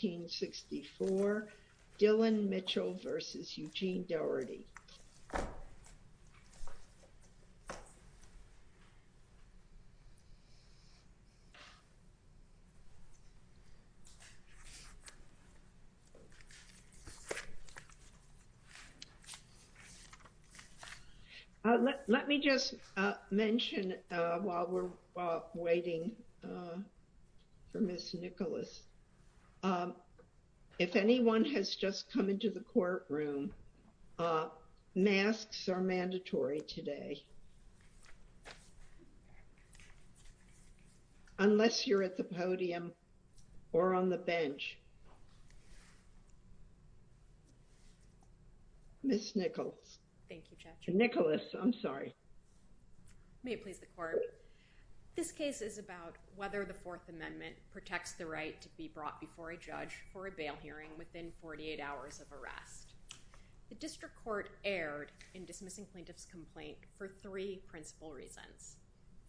Let me just mention while we're waiting for Ms. Nicholas. If anyone has just come into the courtroom, masks are mandatory today unless you're at the podium or on the bench. This case is about whether the Fourth Amendment protects the right to be brought before a judge for a bail hearing within 48 hours of arrest. The District Court erred in dismissing plaintiff's complaint for three principal reasons.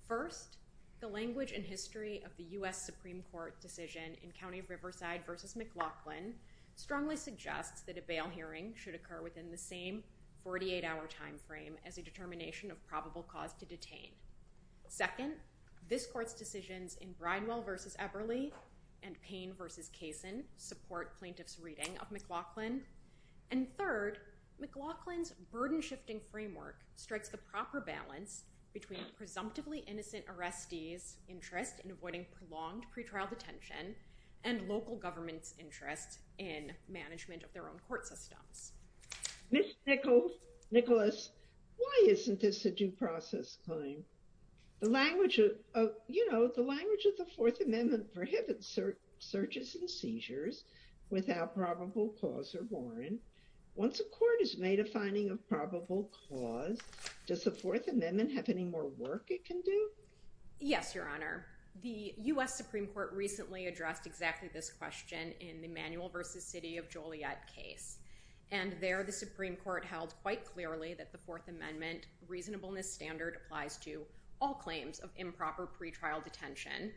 First, the language and history of the U.S. Supreme Court decision in County of Riverside v. McLaughlin strongly suggests that a bail hearing should occur within the same 48-hour time frame as a determination of probable cause to detain. Second, this court's decisions in Bridewell v. Eberly and Payne v. Kaysen support plaintiff's reading of McLaughlin. And third, McLaughlin's burden-shifting framework strikes the proper balance between presumptively innocent arrestees' interest in avoiding prolonged pretrial detention and local governments' interest in management of their own court systems. Ms. Nicholas, why isn't this a due process claim? The language of the Fourth Amendment prohibits searches and seizures without probable cause or warrant. Once a court has made a finding of probable cause, does the Fourth Amendment have any more work it can do? Yes, Your Honor. The U.S. Supreme Court recently addressed exactly this question in the Emanuel v. City of Joliet case. And there, the Supreme Court held quite clearly that the Fourth Amendment reasonableness standard applies to all claims of improper pretrial detention,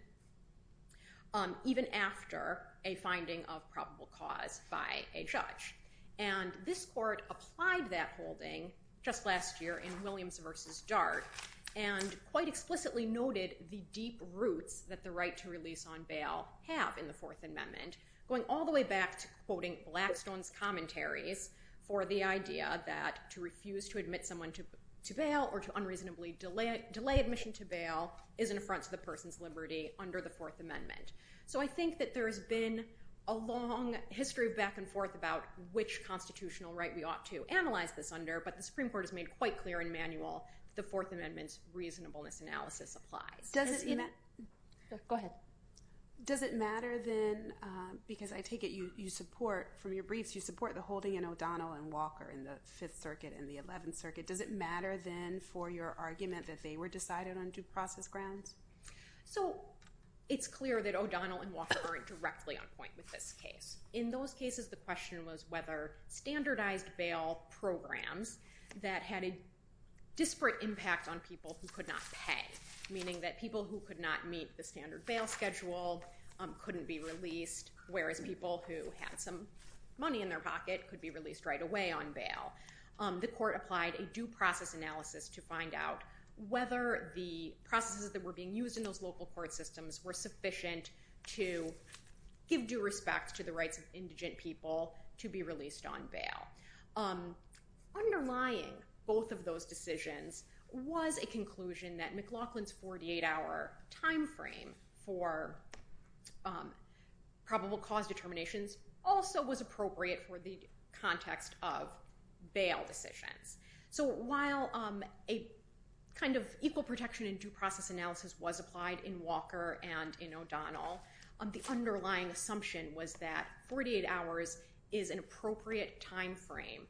even after a finding of probable cause by a judge. And this court applied that holding just last year in Williams v. Dart and quite explicitly noted the deep roots that the right to release on bail have in the Fourth Amendment, going all the way back to quoting Blackstone's commentaries for the idea that to refuse to admit someone to bail or to unreasonably delay admission to bail is an affront to the person's liberty under the Fourth Amendment. So I think that there has been a long history of back and forth about which constitutional right we ought to analyze this under, but the Supreme Court has made quite clear in Emanuel that the Fourth Amendment's reasonableness analysis applies. Go ahead. Does it matter then, because I take it you support, from your briefs, you support the holding in O'Donnell and Walker in the Fifth Circuit and the Eleventh Circuit, does it matter then for your argument that they were decided on due process grounds? So it's clear that O'Donnell and Walker aren't directly on point with this case. In those cases the question was whether standardized bail programs that had a disparate impact on people who could not pay, meaning that people who could not meet the standard bail schedule couldn't be released, whereas people who had some money in their pocket could be released right away on bail, the court applied a due process analysis to find out whether the processes that were being used in those local court systems were sufficient to give due respect to the rights of indigent people to be released on bail. Underlying both of those decisions was a conclusion that McLaughlin's 48-hour time frame for probable cause determinations also was appropriate for the context of bail decisions. So while a kind of equal protection in due process analysis was applied in Walker and in O'Donnell, the underlying assumption was that 48 hours is an appropriate time frame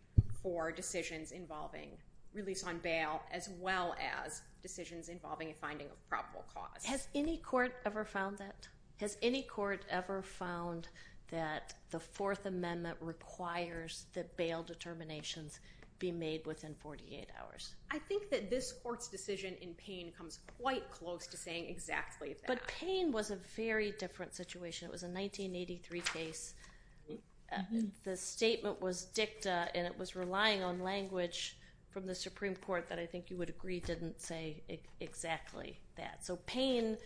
for decisions involving release on bail as well as decisions involving a finding of probable cause. Has any court ever found that? Has any court ever found that the Fourth Amendment requires that bail determinations be made within 48 hours? I think that this court's decision in Payne comes quite close to saying exactly that. But Payne was a very different situation. It was a 1983 case. The statement was dicta and it was relying on language from the Supreme Court that I think you would agree didn't say exactly that. So Payne,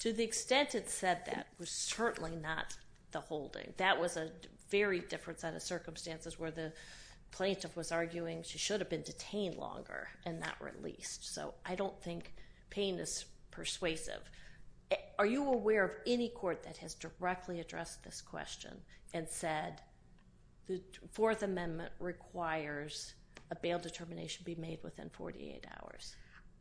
to the extent it said that, was certainly not the holding. That was a very different set of circumstances where the plaintiff was arguing she should have been detained longer and not released. So I don't think Payne is persuasive. Are you aware of any court that has directly addressed this question and said the Fourth Amendment requires a bail determination be made within 48 hours?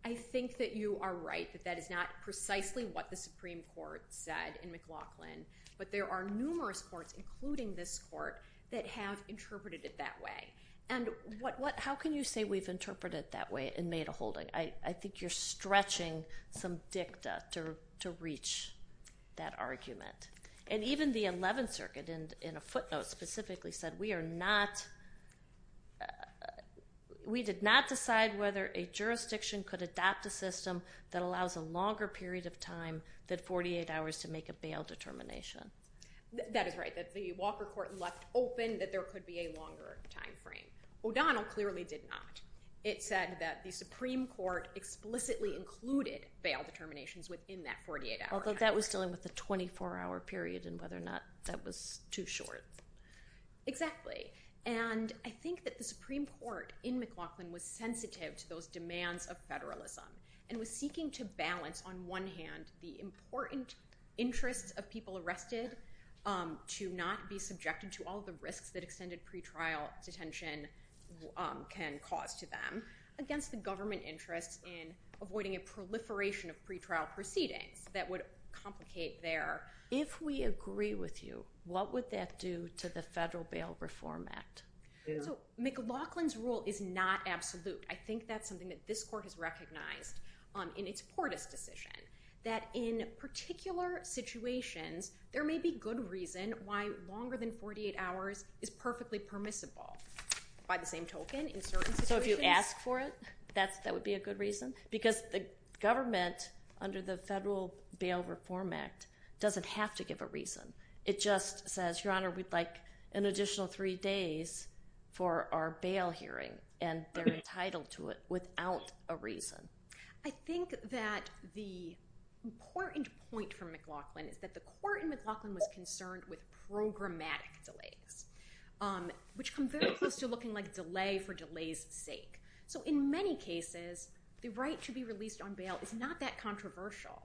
I think that you are right that that is not precisely what the Supreme Court said in McLaughlin. But there are numerous courts, including this court, that have interpreted it that way. And how can you say we've interpreted it that way and made a holding? I think you're stretching some dicta to reach that argument. And even the Eleventh Circuit in a footnote specifically said we did not decide whether a jurisdiction could adopt a system that allows a longer period of time than 48 hours to make a bail determination. That is right, that the Walker Court left open that there could be a longer time frame. O'Donnell clearly did not. It said that the Supreme Court explicitly included bail determinations within that 48-hour time frame. Although that was dealing with a 24-hour period and whether or not that was too short. Exactly. And I think that the Supreme Court in McLaughlin was sensitive to those demands of federalism and was seeking to balance, on one hand, the important interests of people arrested to not be subjected to all the risks that extended pretrial detention can cause to them, against the government interests in avoiding a proliferation of pretrial proceedings that would complicate their... If we agree with you, what would that do to the Federal Bail Reform Act? So McLaughlin's rule is not absolute. I think that's something that this court has recognized in its Portis decision. That in particular situations, there may be good reason why longer than 48 hours is perfectly permissible. By the same token, in certain situations... So if you ask for it, that would be a good reason? Because the government, under the Federal Bail Reform Act, doesn't have to give a reason. It just says, Your Honor, we'd like an additional three days for our bail hearing, and they're entitled to it without a reason. I think that the important point from McLaughlin is that the court in McLaughlin was concerned with programmatic delays, which come very close to looking like delay for delay's sake. So in many cases, the right to be released on bail is not that controversial.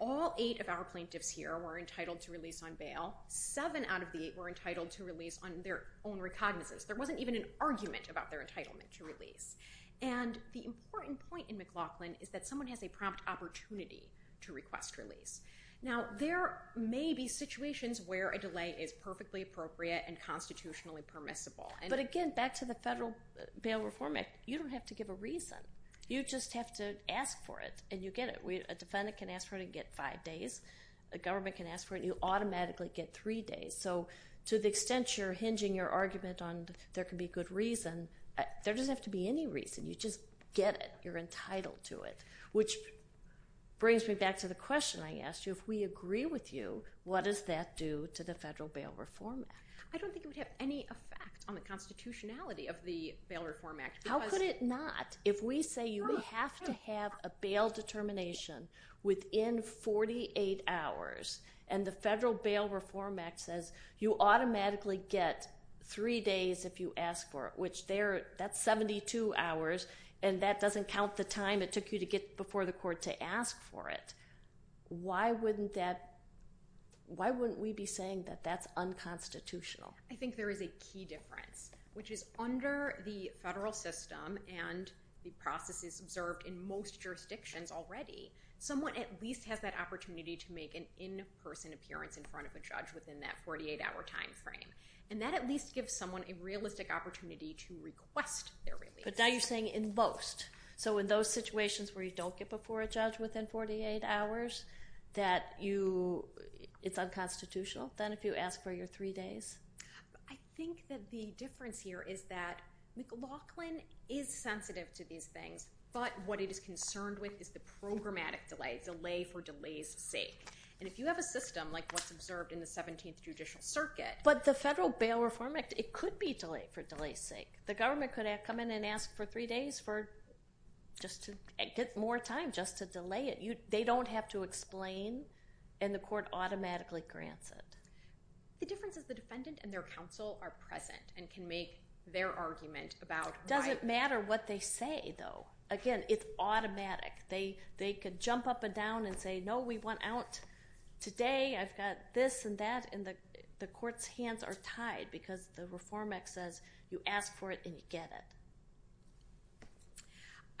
All eight of our plaintiffs here were entitled to release on bail. Seven out of the eight were entitled to release on their own recognizance. There wasn't even an argument about their entitlement to release. And the important point in McLaughlin is that someone has a prompt opportunity to request release. Now, there may be situations where a delay is perfectly appropriate and constitutionally permissible. But again, back to the Federal Bail Reform Act, you don't have to give a reason. You just have to ask for it, and you get it. A defendant can ask for it and get five days. A government can ask for it, and you automatically get three days. So to the extent you're hinging your argument on there can be good reason, there doesn't have to be any reason. You just get it. You're entitled to it, which brings me back to the question I asked you. If we agree with you, what does that do to the Federal Bail Reform Act? I don't think it would have any effect on the constitutionality of the Bail Reform Act. How could it not? If we say you have to have a bail determination within 48 hours, and the Federal Bail Reform Act says you automatically get three days if you ask for it, which that's 72 hours, and that doesn't count the time it took you to get before the court to ask for it, why wouldn't we be saying that that's unconstitutional? I think there is a key difference, which is under the federal system and the processes observed in most jurisdictions already, someone at least has that opportunity to make an in-person appearance in front of a judge within that 48-hour time frame. And that at least gives someone a realistic opportunity to request their release. But now you're saying in most. So in those situations where you don't get before a judge within 48 hours, that it's unconstitutional? Then if you ask for your three days? I think that the difference here is that McLaughlin is sensitive to these things, but what it is concerned with is the programmatic delay, delay for delay's sake. And if you have a system like what's observed in the 17th Judicial Circuit. But the Federal Bail Reform Act, it could be delay for delay's sake. The government could come in and ask for three days for just to get more time just to delay it. They don't have to explain, and the court automatically grants it. The difference is the defendant and their counsel are present and can make their argument about why. It doesn't matter what they say, though. Again, it's automatic. They could jump up and down and say, no, we want out today. I've got this and that. And the court's hands are tied because the Reform Act says you ask for it and you get it.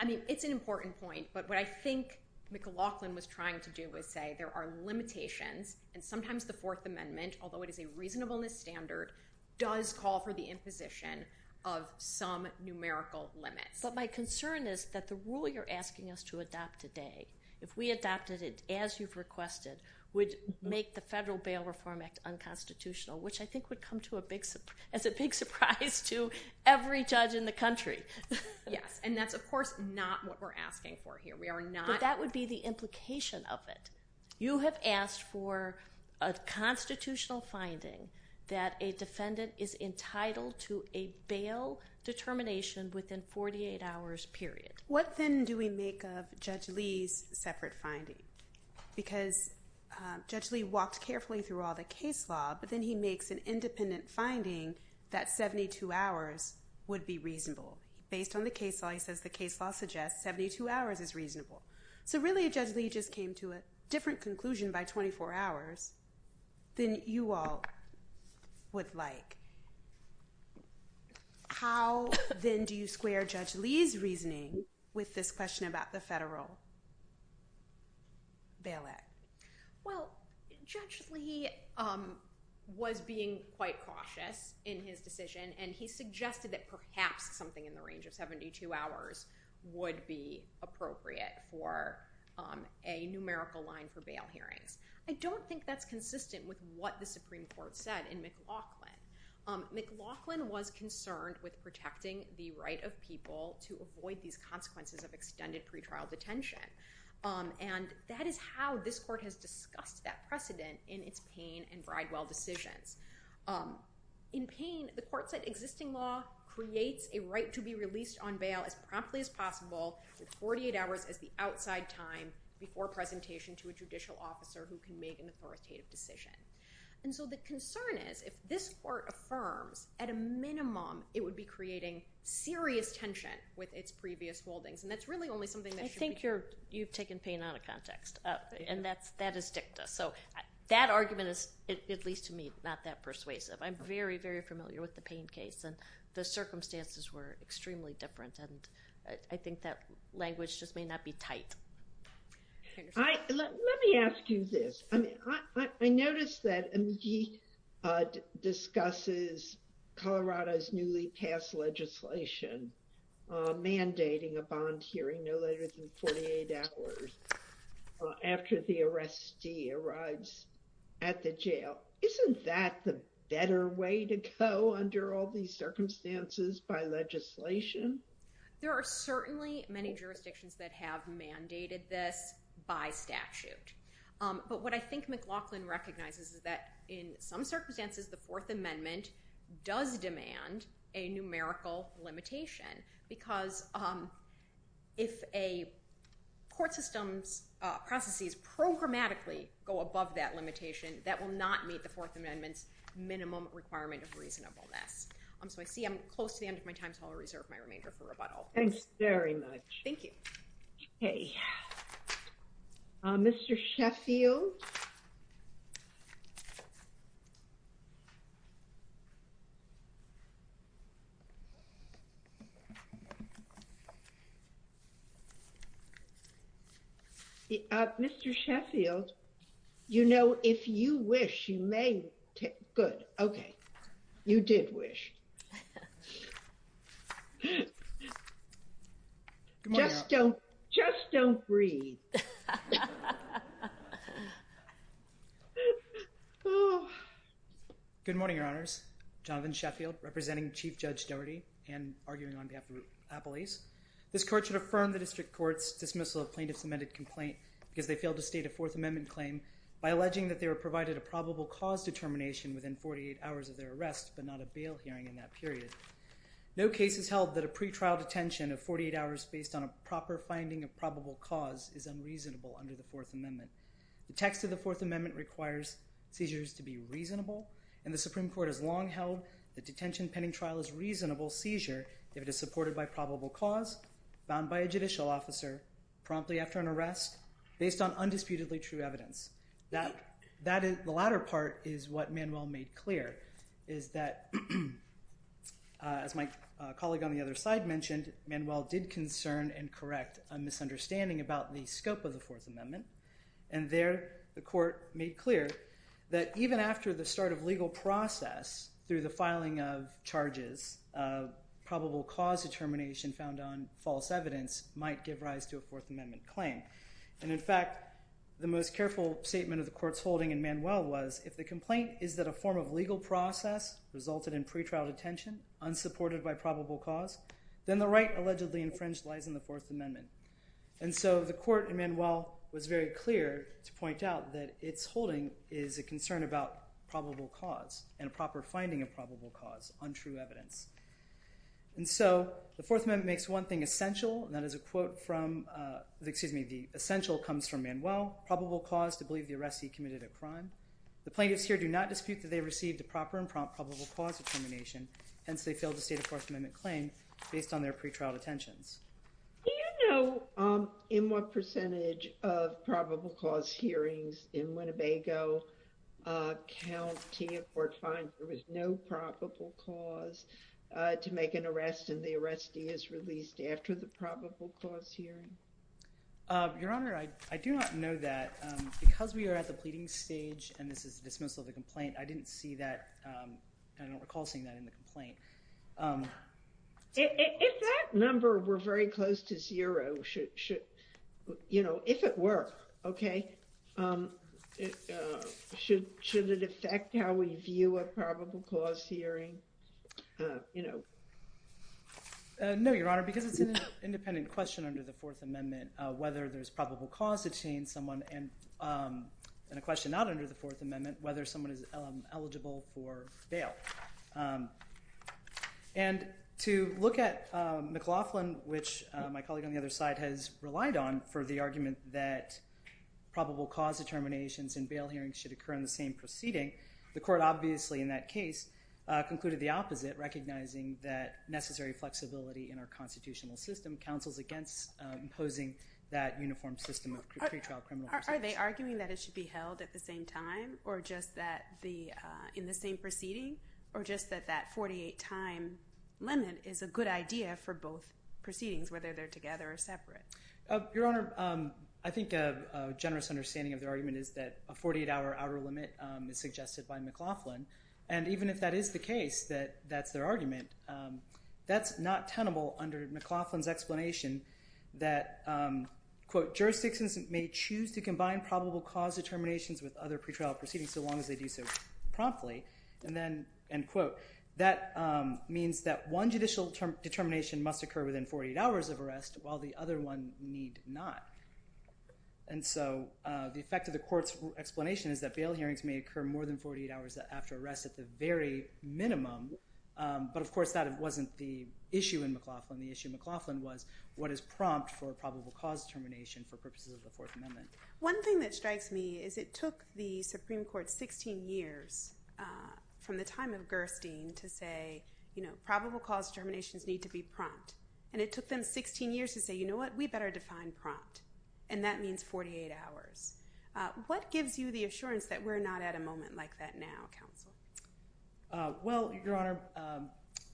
I mean, it's an important point. But what I think McLaughlin was trying to do was say there are limitations, and sometimes the Fourth Amendment, although it is a reasonableness standard, does call for the imposition of some numerical limits. But my concern is that the rule you're asking us to adopt today, if we adopted it as you've requested, would make the Federal Bail Reform Act unconstitutional, which I think would come as a big surprise to every judge in the country. Yes, and that's, of course, not what we're asking for here. But that would be the implication of it. You have asked for a constitutional finding that a defendant is entitled to a bail determination within 48 hours, period. What then do we make of Judge Lee's separate finding? Because Judge Lee walked carefully through all the case law, but then he makes an independent finding that 72 hours would be reasonable. Based on the case law, he says the case law suggests 72 hours is reasonable. So really, Judge Lee just came to a different conclusion by 24 hours than you all would like. How then do you square Judge Lee's reasoning with this question about the Federal Bail Act? Well, Judge Lee was being quite cautious in his decision, and he suggested that perhaps something in the range of 72 hours would be appropriate for a numerical line for bail hearings. I don't think that's consistent with what the Supreme Court said in McLaughlin. McLaughlin was concerned with protecting the right of people to avoid these consequences of extended pretrial detention, and that is how this court has discussed that precedent in its Payne and Bridewell decisions. In Payne, the court said existing law creates a right to be released on bail as promptly as possible, with 48 hours as the outside time before presentation to a judicial officer who can make an authoritative decision. And so the concern is if this court affirms at a minimum it would be creating serious tension with its previous holdings, and that's really only something that should be— I think you've taken Payne out of context, and that is dicta. So that argument is, at least to me, not that persuasive. I'm very, very familiar with the Payne case, and the circumstances were extremely different, and I think that language just may not be tight. Let me ask you this. I noticed that McGee discusses Colorado's newly passed legislation mandating a bond hearing no later than 48 hours after the arrestee arrives at the jail. Isn't that the better way to go under all these circumstances by legislation? There are certainly many jurisdictions that have mandated this by statute, but what I think McLaughlin recognizes is that in some circumstances the Fourth Amendment does demand a numerical limitation because if a court system's processes programmatically go above that limitation, that will not meet the Fourth Amendment's minimum requirement of reasonableness. So I see I'm close to the end of my time, so I'll reserve my remainder for rebuttal. Thanks very much. Thank you. Okay. Mr. Sheffield? Mr. Sheffield, you know, if you wish, you may— Good. Okay. You did wish. Just don't breathe. Good morning, Your Honors. Jonathan Sheffield, representing Chief Judge Doherty and arguing on behalf of Appalachia Police. This court should affirm the district court's dismissal of plaintiff's amended complaint because they failed to state a Fourth Amendment claim by alleging that they were provided a probable cause determination within 48 hours of their arrest, but not a bail hearing in that period. No case has held that a pretrial detention of 48 hours based on a proper finding of probable cause is unreasonable under the Fourth Amendment. The text of the Fourth Amendment requires seizures to be reasonable, and the Supreme Court has long held that detention pending trial is a reasonable seizure if it is supported by probable cause, bound by a judicial officer, promptly after an arrest, based on undisputedly true evidence. The latter part is what Manuel made clear, is that, as my colleague on the other side mentioned, Manuel did concern and correct a misunderstanding about the scope of the Fourth Amendment, and there the court made clear that even after the start of legal process, through the filing of charges, probable cause determination found on false evidence might give rise to a Fourth Amendment claim. And in fact, the most careful statement of the court's holding in Manuel was, if the complaint is that a form of legal process resulted in pretrial detention, unsupported by probable cause, then the right allegedly infringed lies in the Fourth Amendment. And so the court in Manuel was very clear to point out that its holding is a concern about probable cause and a proper finding of probable cause on true evidence. And so the Fourth Amendment makes one thing essential, and that is a quote from, excuse me, the essential comes from Manuel, probable cause to believe the arrestee committed a crime. The plaintiffs here do not dispute that they received a proper and prompt probable cause determination, hence they failed to state a Fourth Amendment claim based on their pretrial detentions. Do you know in what percentage of probable cause hearings in Winnebago County a court finds there was no probable cause to make an arrest, and the arrestee is released after the probable cause hearing? Your Honor, I do not know that. Because we are at the pleading stage, and this is the dismissal of the complaint, I didn't see that, I don't recall seeing that in the complaint. If that number were very close to zero, you know, if it were, okay, should it affect how we view a probable cause hearing? No, Your Honor, because it's an independent question under the Fourth Amendment, whether there's probable cause to detain someone, and a question not under the Fourth Amendment, whether someone is eligible for bail. And to look at McLaughlin, which my colleague on the other side has relied on for the argument that probable cause determinations in bail hearings should occur in the same proceeding, the court obviously in that case concluded the opposite, recognizing that necessary flexibility in our constitutional system counsels against imposing that uniform system of pretrial criminal prosecution. Are they arguing that it should be held at the same time, or just in the same proceeding, or just that that 48-time limit is a good idea for both proceedings, whether they're together or separate? Your Honor, I think a generous understanding of their argument is that a 48-hour outer limit is suggested by McLaughlin. And even if that is the case, that that's their argument, that's not tenable under McLaughlin's explanation that, quote, jurisdictions may choose to combine probable cause determinations with other pretrial proceedings so long as they do so promptly. And then, end quote, that means that one judicial determination must occur within 48 hours of arrest, while the other one need not. And so the effect of the court's explanation is that bail hearings may occur more than 48 hours after arrest at the very minimum. But of course, that wasn't the issue in McLaughlin. The issue in McLaughlin was what is prompt for probable cause determination for purposes of the Fourth Amendment. One thing that strikes me is it took the Supreme Court 16 years from the time of Gerstein to say, you know, probable cause determinations need to be prompt. And it took them 16 years to say, you know what, we better define prompt. And that means 48 hours. What gives you the assurance that we're not at a moment like that now, counsel? Well, Your Honor,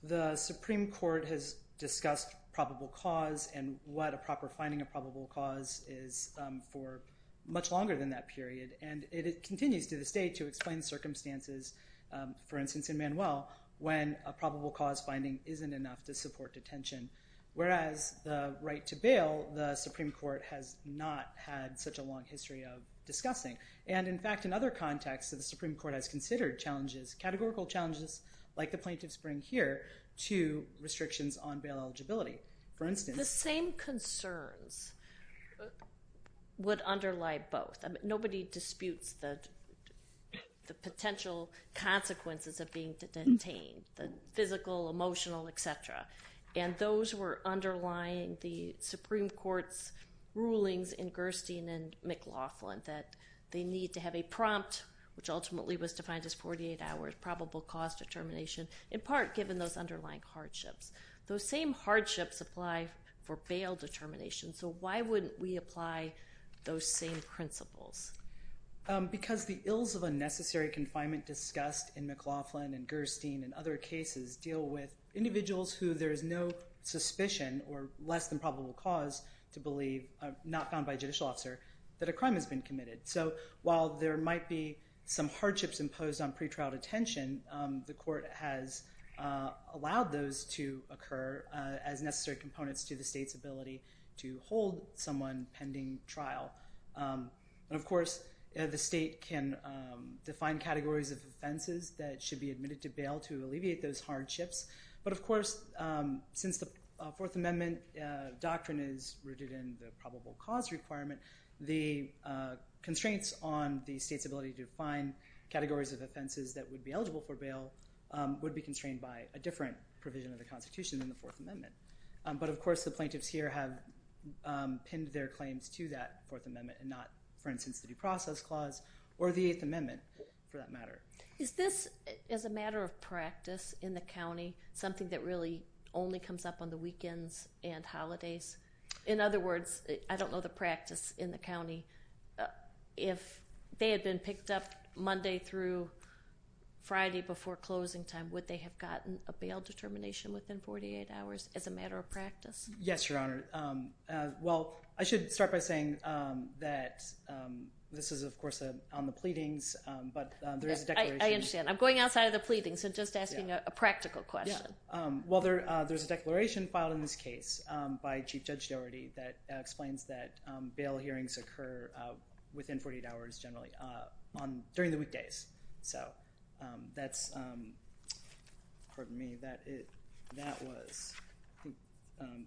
the Supreme Court has discussed probable cause and what a proper finding of probable cause is for much longer than that period. And it continues to this day to explain circumstances, for instance, in Manuel, when a probable cause finding isn't enough to support detention. Whereas the right to bail, the Supreme Court has not had such a long history of discussing. And in fact, in other contexts, the Supreme Court has considered challenges, categorical challenges like the plaintiffs bring here to restrictions on bail eligibility. For instance— The same concerns would underlie both. Nobody disputes the potential consequences of being detained, the physical, emotional, et cetera. And those were underlying the Supreme Court's rulings in Gerstein and McLaughlin that they need to have a prompt, which ultimately was defined as 48 hours probable cause determination, in part given those underlying hardships. Those same hardships apply for bail determination. So why wouldn't we apply those same principles? Because the ills of unnecessary confinement discussed in McLaughlin and Gerstein and other cases deal with individuals who there is no suspicion or less than probable cause to believe, not found by a judicial officer, that a crime has been committed. So while there might be some hardships imposed on pretrial detention, the court has allowed those to occur as necessary components to the state's ability to hold someone pending trial. And of course, the state can define categories of offenses that should be admitted to bail to alleviate those hardships. But of course, since the Fourth Amendment doctrine is rooted in the probable cause requirement, the constraints on the state's ability to define categories of offenses that would be eligible for bail would be constrained by a different provision of the Constitution than the Fourth Amendment. But of course, the plaintiffs here have pinned their claims to that Fourth Amendment and not, for instance, the Due Process Clause or the Eighth Amendment, for that matter. Is this, as a matter of practice in the county, something that really only comes up on the weekends and holidays? In other words, I don't know the practice in the county. If they had been picked up Monday through Friday before closing time, would they have gotten a bail determination within 48 hours as a matter of practice? Yes, Your Honor. Well, I should start by saying that this is, of course, on the pleadings, but there is a declaration. I understand. I'm going outside of the pleadings and just asking a practical question. Well, there's a declaration filed in this case by Chief Judge Dougherty that explains that bail hearings occur within 48 hours generally during the weekdays. So that's, pardon me,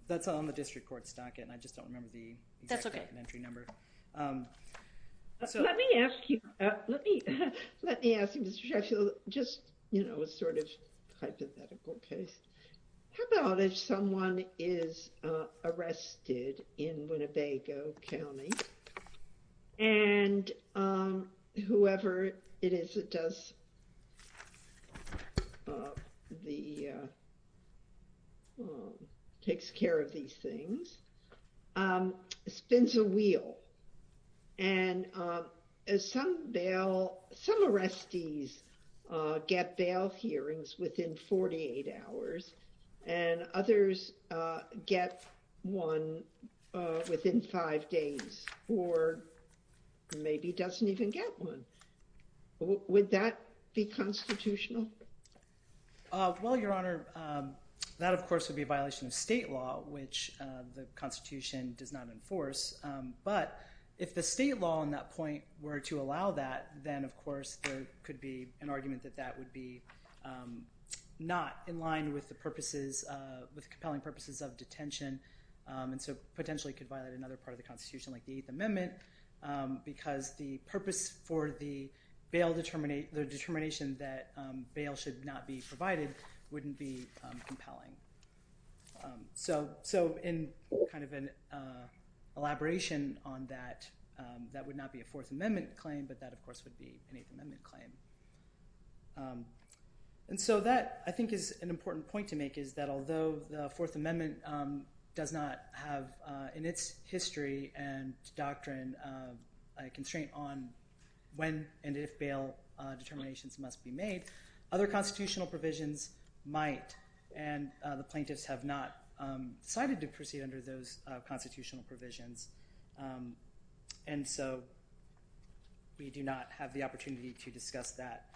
that's on the district court stocket, and I just don't remember the exact documentary number. Let me ask you, Mr. Judge, just, you know, a sort of hypothetical case. How about if someone is arrested in Winnebago County and whoever it is that takes care of these things spins a wheel and some bail, some arrestees get bail hearings within 48 hours and others get one within five days or maybe doesn't even get one. Would that be constitutional? Well, Your Honor, that, of course, would be a violation of state law, which the Constitution does not enforce. But if the state law on that point were to allow that, then, of course, there could be an argument that that would be not in line with the purposes, with compelling purposes of detention and so potentially could violate another part of the Constitution, like the Eighth Amendment, because the purpose for the bail determination that bail should not be provided wouldn't be compelling. So in kind of an elaboration on that, that would not be a Fourth Amendment claim, but that, of course, would be an Eighth Amendment claim. And so that, I think, is an important point to make, is that although the Fourth Amendment does not have, in its history and doctrine, a constraint on when and if bail determinations must be made, other constitutional provisions might, and the plaintiffs have not decided to proceed under those constitutional provisions. And so we do not have the opportunity to discuss that.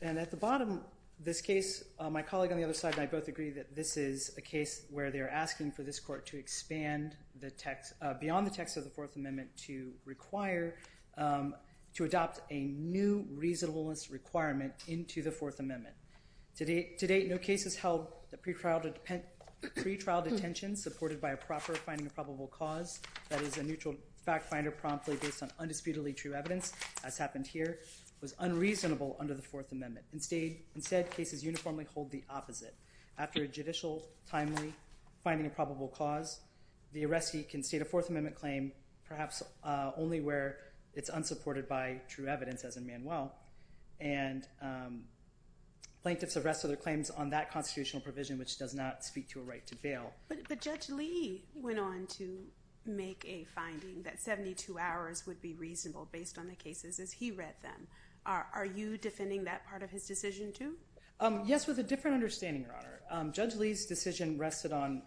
And at the bottom, this case, my colleague on the other side and I both agree that this is a case where they're asking for this court to expand the text, beyond the text of the Fourth Amendment, to require, to adopt a new reasonableness requirement into the Fourth Amendment. To date, no case has held a pretrial detention supported by a proper finding of probable cause, that is a neutral fact finder promptly based on undisputedly true evidence, as happened here, was unreasonable under the Fourth Amendment. Instead, cases uniformly hold the opposite. After a judicial timely finding of probable cause, the arrestee can state a Fourth Amendment claim, perhaps only where it's unsupported by true evidence, as in Manuel. And plaintiffs arrest other claims on that constitutional provision, which does not speak to a right to bail. But Judge Lee went on to make a finding that 72 hours would be reasonable based on the cases as he read them. Are you defending that part of his decision too? Yes, with a different understanding, Your Honor. Judge Lee's decision rested on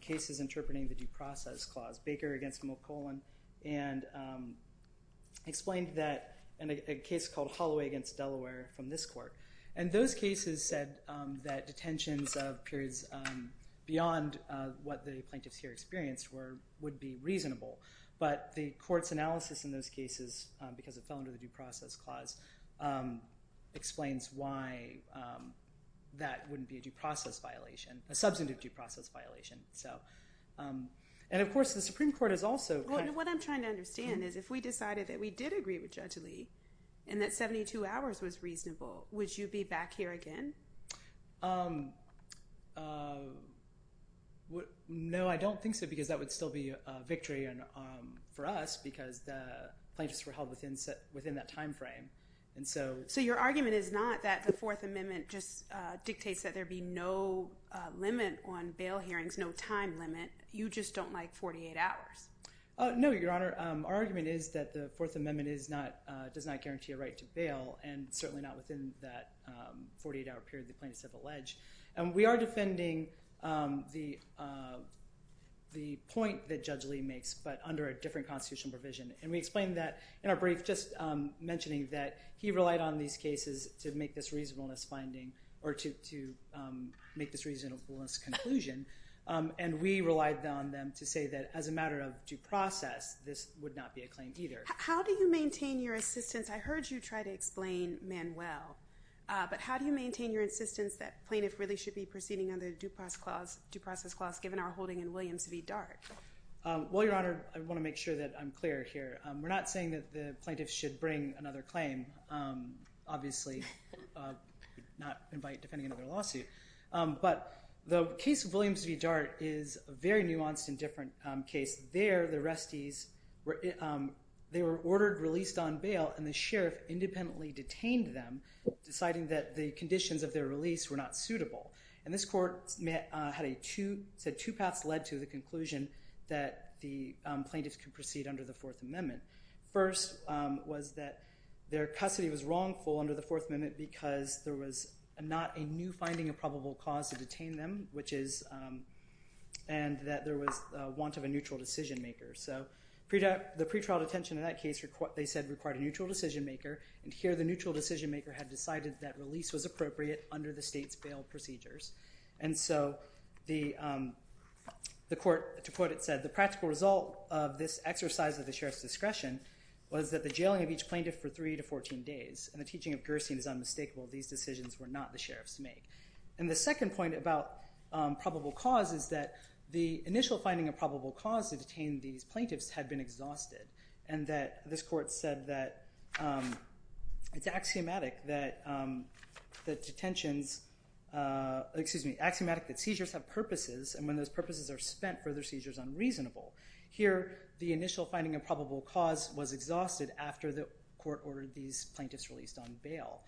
cases interpreting the Due Process Clause, Baker against McClellan, and explained that in a case called Holloway against Delaware from this court. And those cases said that detentions of periods beyond what the plaintiffs here experienced would be reasonable. But the court's analysis in those cases, because it fell under the Due Process Clause, explains why that wouldn't be a due process violation, a substantive due process violation. And, of course, the Supreme Court is also— What I'm trying to understand is if we decided that we did agree with Judge Lee and that 72 hours was reasonable, would you be back here again? No, I don't think so because that would still be a victory for us because the plaintiffs were held within that time frame. So your argument is not that the Fourth Amendment just dictates that there be no limit on bail hearings, no time limit. You just don't like 48 hours. No, Your Honor. Our argument is that the Fourth Amendment does not guarantee a right to bail, and certainly not within that 48-hour period the plaintiffs have alleged. And we are defending the point that Judge Lee makes, but under a different constitutional provision. And we explained that in our brief, just mentioning that he relied on these cases to make this reasonableness finding, or to make this reasonableness conclusion. And we relied on them to say that as a matter of due process, this would not be a claim either. How do you maintain your assistance? I heard you try to explain Manuel. But how do you maintain your insistence that plaintiffs really should be proceeding under the Due Process Clause, given our holding in Williams v. Dart? Well, Your Honor, I want to make sure that I'm clear here. We're not saying that the plaintiffs should bring another claim. Obviously, not by defending another lawsuit. But the case of Williams v. Dart is a very nuanced and different case. There, the restees were ordered released on bail, and the sheriff independently detained them, deciding that the conditions of their release were not suitable. And this court said two paths led to the conclusion that the plaintiffs could proceed under the Fourth Amendment. First was that their custody was wrongful under the Fourth Amendment because there was not a new finding of probable cause to detain them, and that there was want of a neutral decision maker. So the pretrial detention in that case, they said, required a neutral decision maker. And here, the neutral decision maker had decided that release was appropriate under the state's bail procedures. And so the court, to quote it, said, the practical result of this exercise of the sheriff's discretion was that the jailing of each plaintiff for 3 to 14 days, and the teaching of Gerstein is unmistakable. These decisions were not the sheriff's make. And the second point about probable cause is that the initial finding of probable cause to detain these plaintiffs had been exhausted, and that this court said that it's axiomatic that detentions, excuse me, axiomatic that seizures have purposes, and when those purposes are spent, further seizure is unreasonable. Here, the initial finding of probable cause was exhausted after the court ordered these plaintiffs released on bail.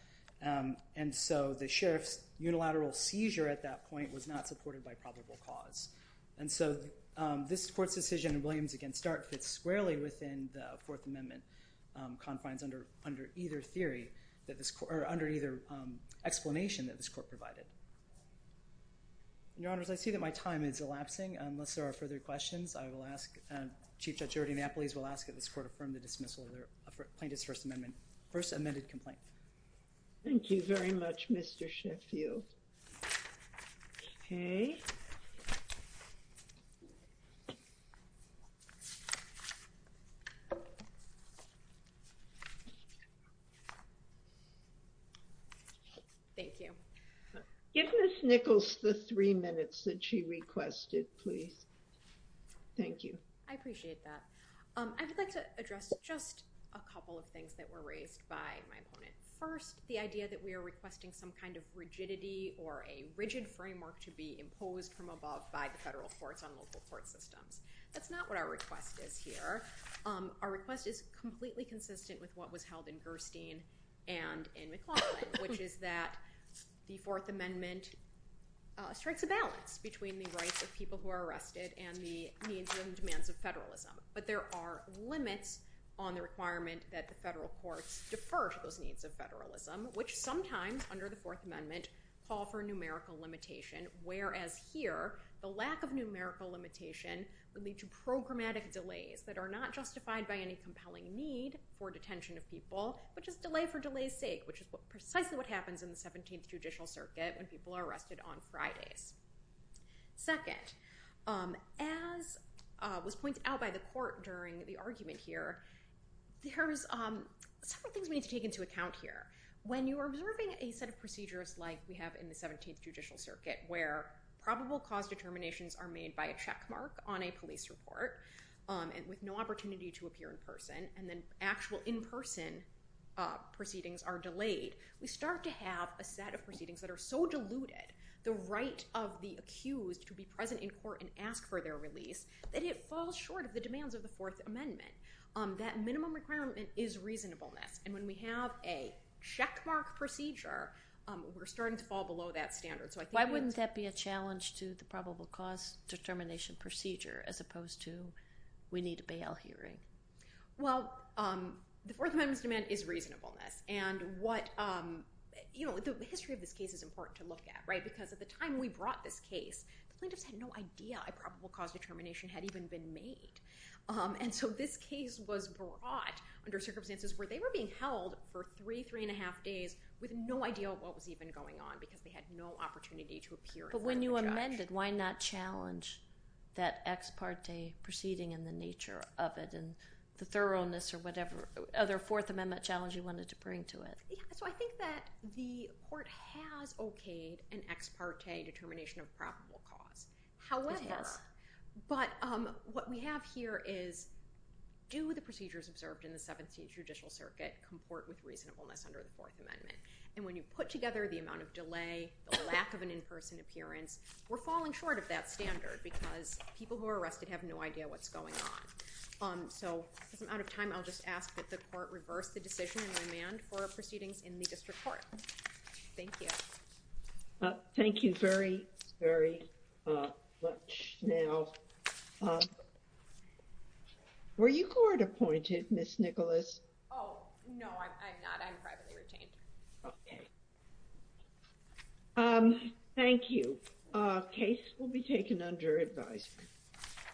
And so the sheriff's unilateral seizure at that point was not supported by probable cause. And so this court's decision in Williams against Dart fits squarely within the Fourth Amendment confines under either theory that this court, or under either explanation that this court provided. Your Honors, I see that my time is elapsing. Unless there are further questions, I will ask Chief Judge Ernie Napoles will ask that this court affirm the dismissal of the plaintiff's First Amendment, first amended complaint. Thank you very much, Mr. Sheffield. Okay. Thank you. Give Ms. Nichols the three minutes that she requested, please. Thank you. I appreciate that. I would like to address just a couple of things that were raised by my opponent. First, the idea that we are requesting some kind of rigidity or a rigid framework to be imposed from above by the federal courts on local court systems. That's not what our request is here. Our request is completely consistent with what was held in Gerstein and in McLaughlin, which is that the Fourth Amendment strikes a balance between the rights of people who are arrested and the needs and demands of federalism. But there are limits on the requirement that the federal courts defer to those needs of federalism, which sometimes under the Fourth Amendment call for numerical limitation, whereas here the lack of numerical limitation would lead to programmatic delays that are not justified by any compelling need for detention of people, which is delay for delay's sake, which is precisely what happens in the 17th Judicial Circuit when people are arrested on Fridays. Second, as was pointed out by the court during the argument here, there's several things we need to take into account here. When you are observing a set of procedures like we have in the 17th Judicial Circuit, where probable cause determinations are made by a checkmark on a police report with no opportunity to appear in person, and then actual in-person proceedings are delayed, we start to have a set of proceedings that are so diluted the right of the accused to be present in court and ask for their release that it falls short of the demands of the Fourth Amendment. That minimum requirement is reasonableness, and when we have a checkmark procedure, we're starting to fall below that standard. Why wouldn't that be a challenge to the probable cause determination procedure as opposed to we need a bail hearing? Well, the Fourth Amendment's demand is reasonableness, and the history of this case is important to look at, because at the time we brought this case, the plaintiffs had no idea a probable cause determination had even been made. And so this case was brought under circumstances where they were being held for three, three and a half days with no idea of what was even going on because they had no opportunity to appear in front of the judge. If it's amended, why not challenge that ex parte proceeding and the nature of it and the thoroughness or whatever other Fourth Amendment challenge you wanted to bring to it? So I think that the court has okayed an ex parte determination of probable cause. However, what we have here is do the procedures observed in the 17th Judicial Circuit comport with reasonableness under the Fourth Amendment? And when you put together the amount of delay, the lack of an in-person appearance, we're falling short of that standard because people who are arrested have no idea what's going on. So if I'm out of time, I'll just ask that the court reverse the decision and remand for proceedings in the district court. Thank you. Thank you very, very much. Now, were you court appointed, Ms. Nicholas? Oh, no, I'm not. I'm privately retained. Okay. Thank you. Case will be taken under advisory.